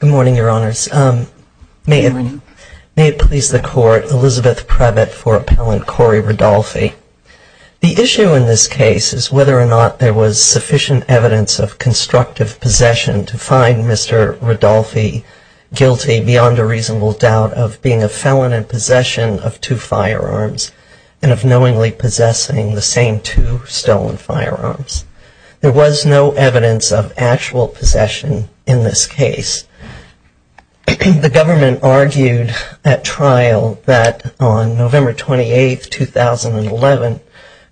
Good morning, Your Honors. May it please the Court, Elizabeth Prevett for Appellant Corey Ridolfi. The issue in this case is whether or not there was sufficient evidence of constructive possession to find Mr. Ridolfi guilty beyond a reasonable doubt of being a felon in possession of two firearms and of knowingly possessing the same two stolen firearms. There was no evidence of actual possession in this case. The government argued at trial that on November 28, 2011,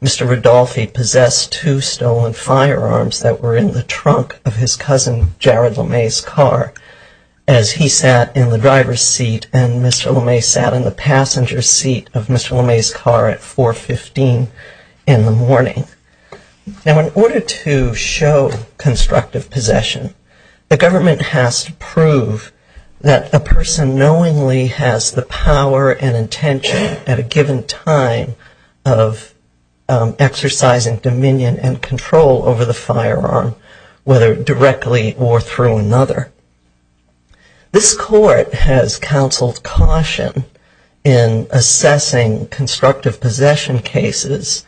Mr. Ridolfi possessed two stolen firearms that were in the trunk of his cousin Jared Lemay's car as he sat in the driver's seat and Mr. Lemay sat in the passenger seat of Mr. Lemay's car at 4.15 in the morning. Now, in order to show constructive possession, the government has to prove that a person knowingly has the power and intention at a given time of exercising dominion and control over the firearm, whether directly or through another. This Court has counseled caution in assessing constructive possession cases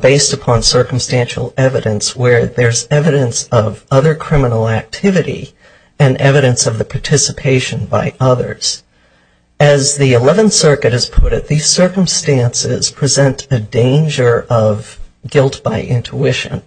based upon circumstantial evidence where there's evidence of other criminal activity and evidence of the participation by others. As the 11th Circuit has put it, these circumstances present a danger of guilt by intuition.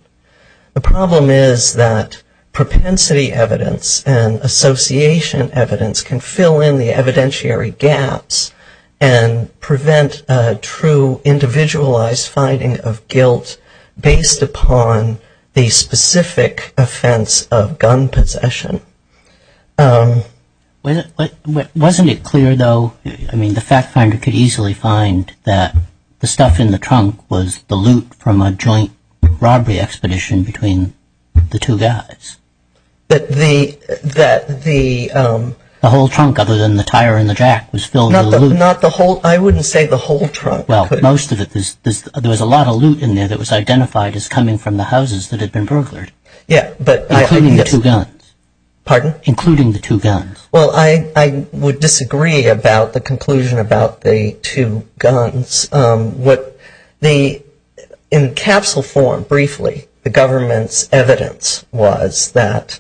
The problem is that propensity evidence and association evidence can fill in the evidentiary gaps and prevent a true individualized finding of guilt based upon the specific offense of gun possession. Wasn't it clear, though? I mean, the fact finder could easily find that the stuff in the trunk was the loot from a joint robbery expedition between the two guys. But the... That the... The whole trunk, other than the tire and the jack, was filled with the loot. Not the whole... I wouldn't say the whole trunk. Well, most of it was... There was a lot of loot in there that was identified as coming from the houses that had been burglared. Yeah, but... Including the two guns. Pardon? Including the two guns. Well, I would disagree about the conclusion about the two guns. What the... In capsule form, briefly, the government's evidence was that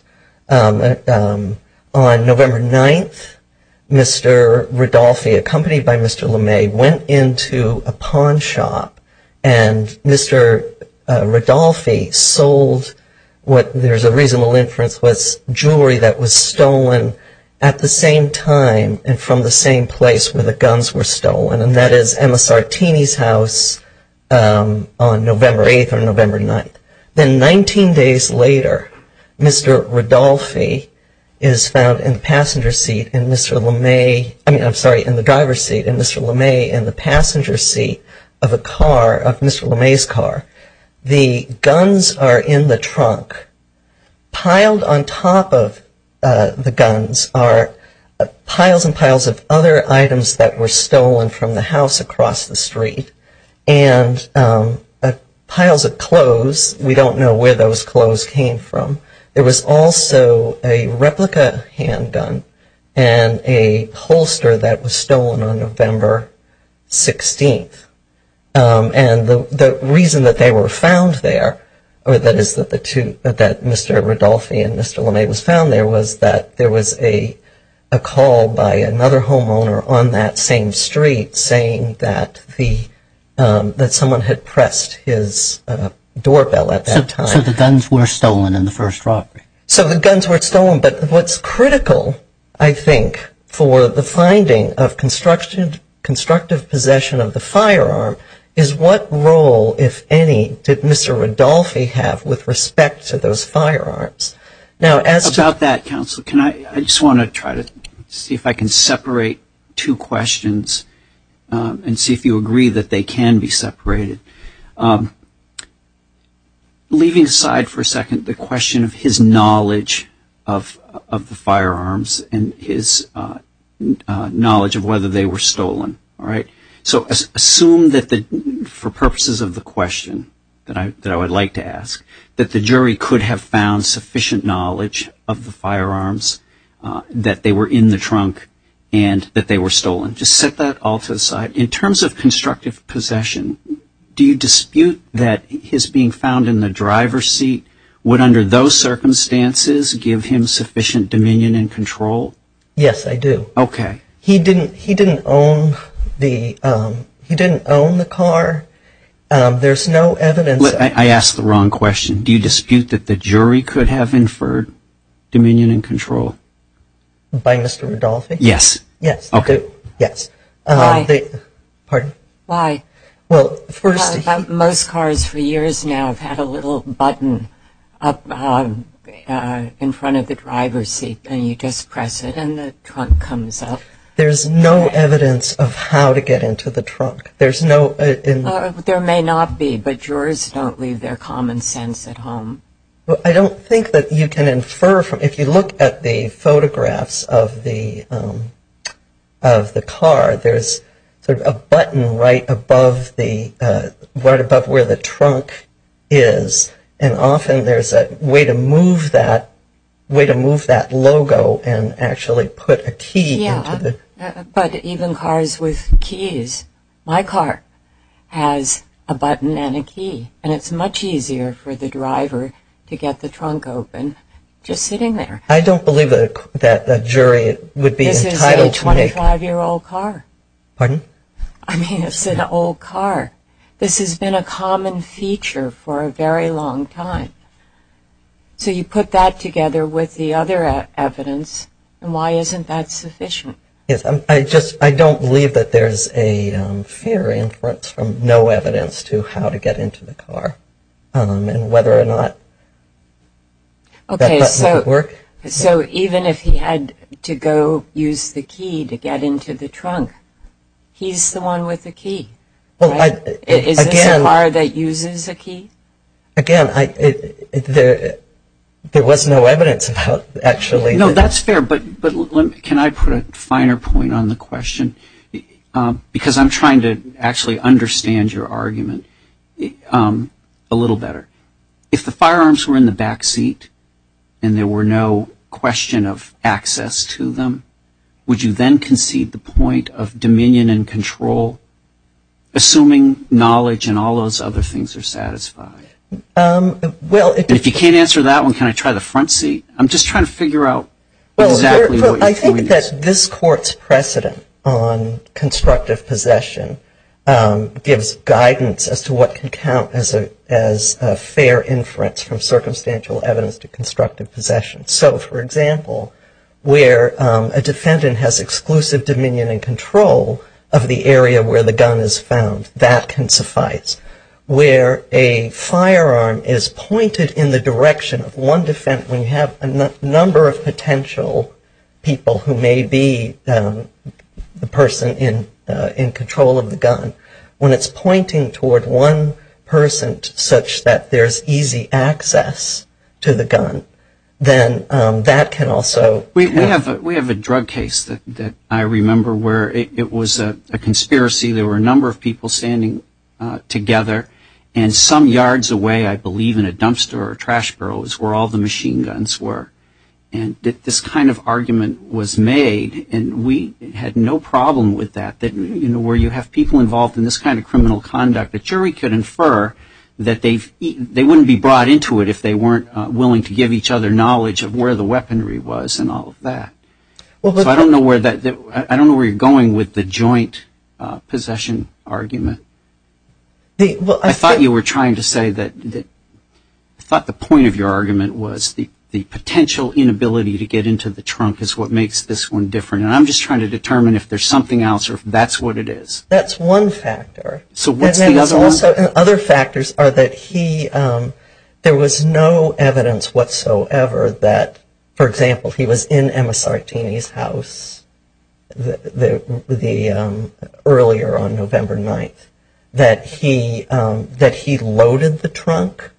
on November 9th, Mr. Rodolphe, accompanied by Mr. Lemay, went into a pawn shop and Mr. Rodolphe sold what... Jewelry that was stolen at the same time and from the same place where the guns were stolen. And that is Emma Sartini's house on November 8th or November 9th. Then 19 days later, Mr. Rodolphe is found in the passenger seat in Mr. Lemay... I mean, I'm sorry, in the driver's seat in Mr. Lemay in the passenger seat of a car, of Mr. Lemay's car. The guns are in the trunk. Piled on top of the guns are piles and piles of other items that were stolen from the house across the street and piles of clothes. We don't know where those clothes came from. There was also a replica handgun and a holster that was stolen on November 16th. And the reason that they were found there, or that is that Mr. Rodolphe and Mr. Lemay was found there, was that there was a call by another homeowner on that same street saying that someone had pressed his doorbell at that time. So the guns were stolen in the first robbery? So the guns were stolen, but what's critical, I think, for the finding of constructive possession of the firearm is what role, if any, did Mr. Rodolphe have with respect to those firearms? Now, as... About that, Counselor, can I... I just want to try to see if I can separate two questions and see if you agree that they can be separated. Leaving aside for a second the question of his knowledge of the firearms and his knowledge of whether they were stolen, all right? So assume that for purposes of the question that I would like to ask, that the jury could have found sufficient knowledge of the firearms, that they were in the trunk, and that they were stolen. Just set that all to the side. In terms of constructive possession, do you dispute that his being found in the driver's seat would, under those circumstances, give him sufficient dominion and control? Yes, I do. Okay. He didn't own the car. There's no evidence... I asked the wrong question. Do you dispute that the jury could have inferred dominion and control? By Mr. Rodolphe? Yes. Yes, they do. Yes. Pardon? Why? Well, first... Most cars, for years now, have had a little button up in front of the driver's seat, and you just press it, and the trunk comes up. There's no evidence of how to get into the trunk. There's no... There may not be, but jurors don't leave their common sense at home. I don't think that you can infer from... If you look at the photographs of the car, there's sort of a button right above where the trunk is, and often there's a way to move that logo and actually put a key into the... Yeah, but even cars with keys... My car has a button and a key, and it's much easier for the driver to get the trunk open just sitting there. I don't believe that a jury would be entitled to make... This is a 25-year-old car. Pardon? I mean, it's an old car. This has been a common feature for a very long time. So you put that together with the other evidence, and why isn't that sufficient? Yes, I just... I don't believe that there's a fair inference from no evidence to how to get into the car, and whether or not that button could work. So even if he had to go use the key to get into the trunk, he's the one with the key, right? Is this a car that uses a key? Again, there was no evidence about actually... No, that's fair, but can I put a finer point on the question? Because I'm trying to actually understand your argument a little better. If the firearms were in the back seat and there were no question of access to them, would you then concede the point of dominion and control, assuming knowledge and all those other things are satisfied? Well, if... If you can't answer that one, can I try the front seat? I'm just trying to figure out exactly what you're... I think that this Court's precedent on constructive possession gives guidance as to what can count as a fair inference from circumstantial evidence to constructive possession. So, for example, where a defendant has exclusive dominion and control of the area where the gun is found, that can suffice. Where a firearm is pointed in the direction of one defendant, when you have a number of potential people who may be the person in control of the gun, when it's pointing toward one person such that there's easy access to the gun, then that can also... We have a drug case that I remember where it was a conspiracy. There were a number of people standing together, and some yards away, I believe, in a dumpster or a trash barrel is where all the machine guns were. And this kind of argument was made, and we had no problem with that, that where you have people involved in this kind of criminal conduct, the jury could infer that they wouldn't be brought into it if they weren't willing to give each other knowledge of where the weaponry was and all of that. So I don't know where you're going with the joint possession argument. I thought you were trying to say that... I thought the point of your argument was the potential inability to get into the trunk is what makes this one different. And I'm just trying to determine if there's something else or if that's what it is. That's one factor. So what's the other one? Other factors are that there was no evidence whatsoever that, for example, he was in Emma Sartini's house earlier on November 9th, that he loaded the trunk,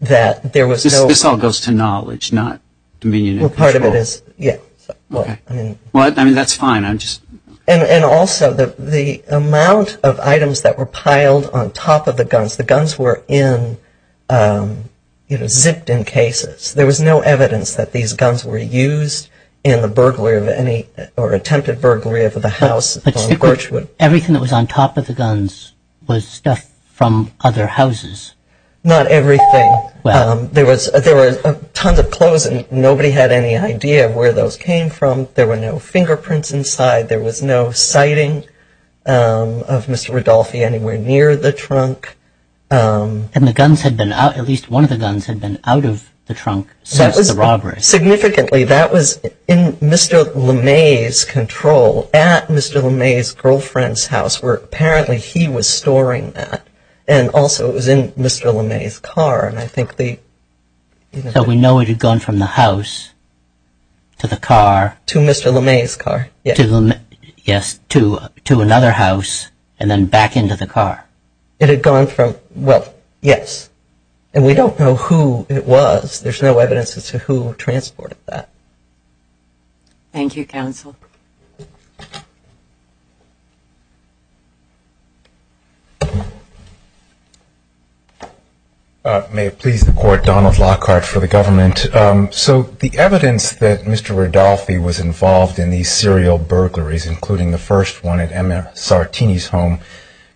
that there was no... This all goes to knowledge, not dominion and control. Part of it is, yeah. I mean, that's fine. And also the amount of items that were piled on top of the guns, the guns were zipped in cases. There was no evidence that these guns were used in the burglary of any or attempted burglary of the house on Gorchwood. Everything that was on top of the guns was stuff from other houses. Not everything. There were tons of clothes and nobody had any idea where those came from. There were no fingerprints inside. There was no sighting of Mr. Rodolphe anywhere near the trunk. And the guns had been out... At least one of the guns had been out of the trunk since the robbery. Significantly, that was in Mr. LeMay's control, at Mr. LeMay's girlfriend's house, where apparently he was storing that. And also it was in Mr. LeMay's car. And I think the... So we know it had gone from the house to the car. To Mr. LeMay's car. Yes, to another house and then back into the car. It had gone from... Well, yes. And we don't know who it was. There's no evidence as to who transported that. Thank you, counsel. May it please the court, Donald Lockhart for the government. So the evidence that Mr. Rodolphe was involved in these serial burglaries, including the first one at Emma Sartini's home,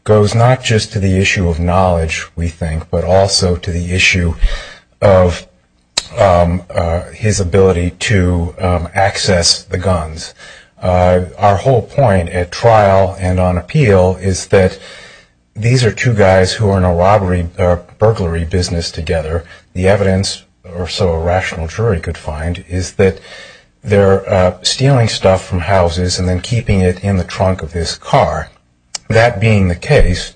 goes not just to the issue of knowledge, we think, but also to the issue of his ability to access the guns. Our whole point at trial and on appeal is that these are two guys who are in a robbery... Burglary business together. The evidence, or so a rational jury could find, is that they're stealing stuff from houses and then keeping it in the trunk of this car. That being the case,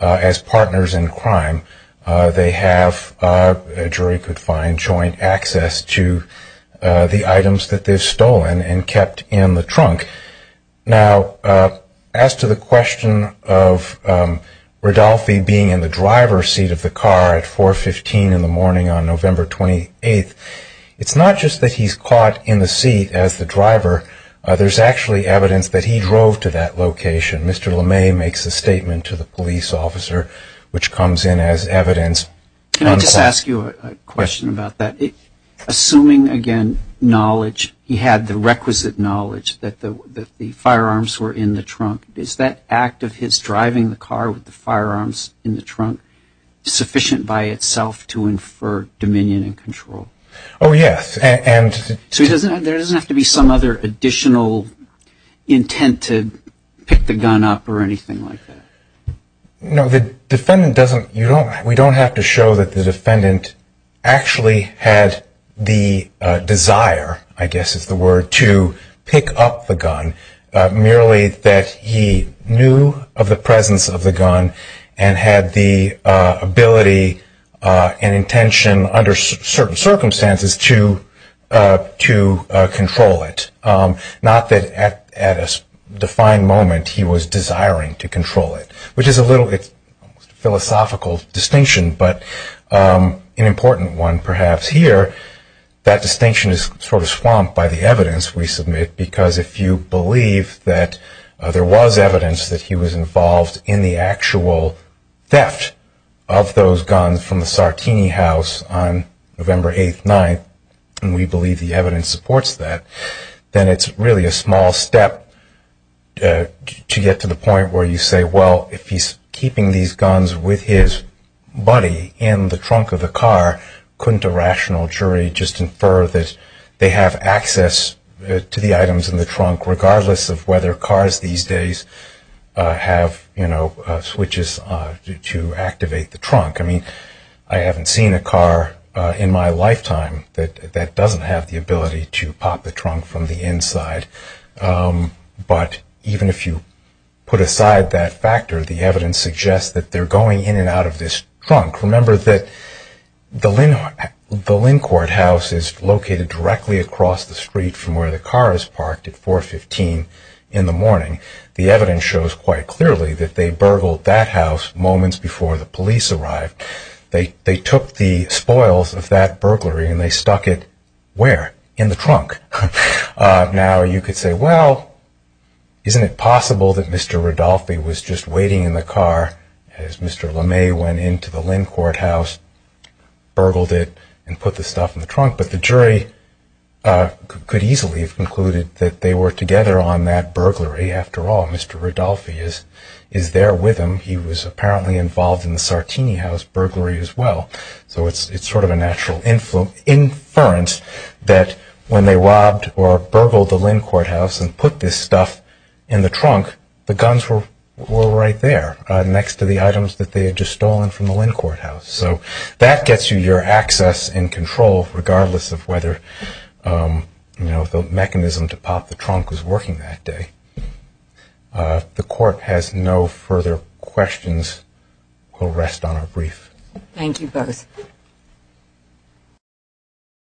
as partners in crime, they have, a jury could find, joint access to the items that they've stolen and kept in the trunk. Now, as to the question of Rodolphe being in the driver's seat of the car at 4.15 in the morning on November 28th, it's not just that he's caught in the seat as the driver, there's actually evidence that he drove to that location. Mr. Lemay makes a statement to the police officer, which comes in as evidence. Can I just ask you a question about that? Assuming, again, knowledge, he had the requisite knowledge that the firearms were in the trunk, is that act of his driving the car with the firearms in the trunk sufficient by itself to infer dominion and control? Oh, yes. There doesn't have to be some other additional intent to pick the gun up or anything like that? No, the defendant doesn't, we don't have to show that the defendant actually had the desire, I guess is the word, to pick up the gun, merely that he knew of the presence of the gun and had the ability and intention under certain circumstances to control it, not that at a defined moment he was desiring to control it, which is a little bit philosophical distinction, but an important one, perhaps. Here, that distinction is sort of swamped by the evidence we submit, because if you believe that there was evidence that he was involved in the actual theft of those guns from the Sartini house on November 8th, 9th, and we believe the evidence supports that, then it's really a small step to get to the point where you say, well, if he's keeping these guns with his buddy in the trunk of the car, couldn't a rational jury just infer that they have access to the items in the trunk, regardless of whether cars these days have switches to activate the trunk? I mean, I haven't seen a car in my lifetime that doesn't have the ability to pop the trunk from the inside, but even if you put aside that factor, the evidence suggests that they're going in and out of this trunk. Remember that the Lincourt house is located directly across the street from where the car is parked at 415 in the morning. The evidence shows quite clearly that they burgled that house moments before the police arrived. They took the spoils of that burglary and they stuck it where? In the trunk. Now, you could say, well, isn't it possible that Mr. Rodolphe was just waiting in the car as Mr. Lemay went into the Lincourt house, burgled it, and put the stuff in the trunk, but the jury could easily have concluded that they were together on that burglary. After all, Mr. Rodolphe is there with him. He was apparently involved in the Sartini house burglary as well. So it's sort of a natural inference that when they robbed or burgled the Lincourt house and put this stuff in the trunk, the guns were right there next to the items that they had just stolen from the Lincourt house. So that gets you your access and control, regardless of whether the mechanism to pop the trunk was working that day. The court has no further questions. We'll rest on our brief. Thank you both.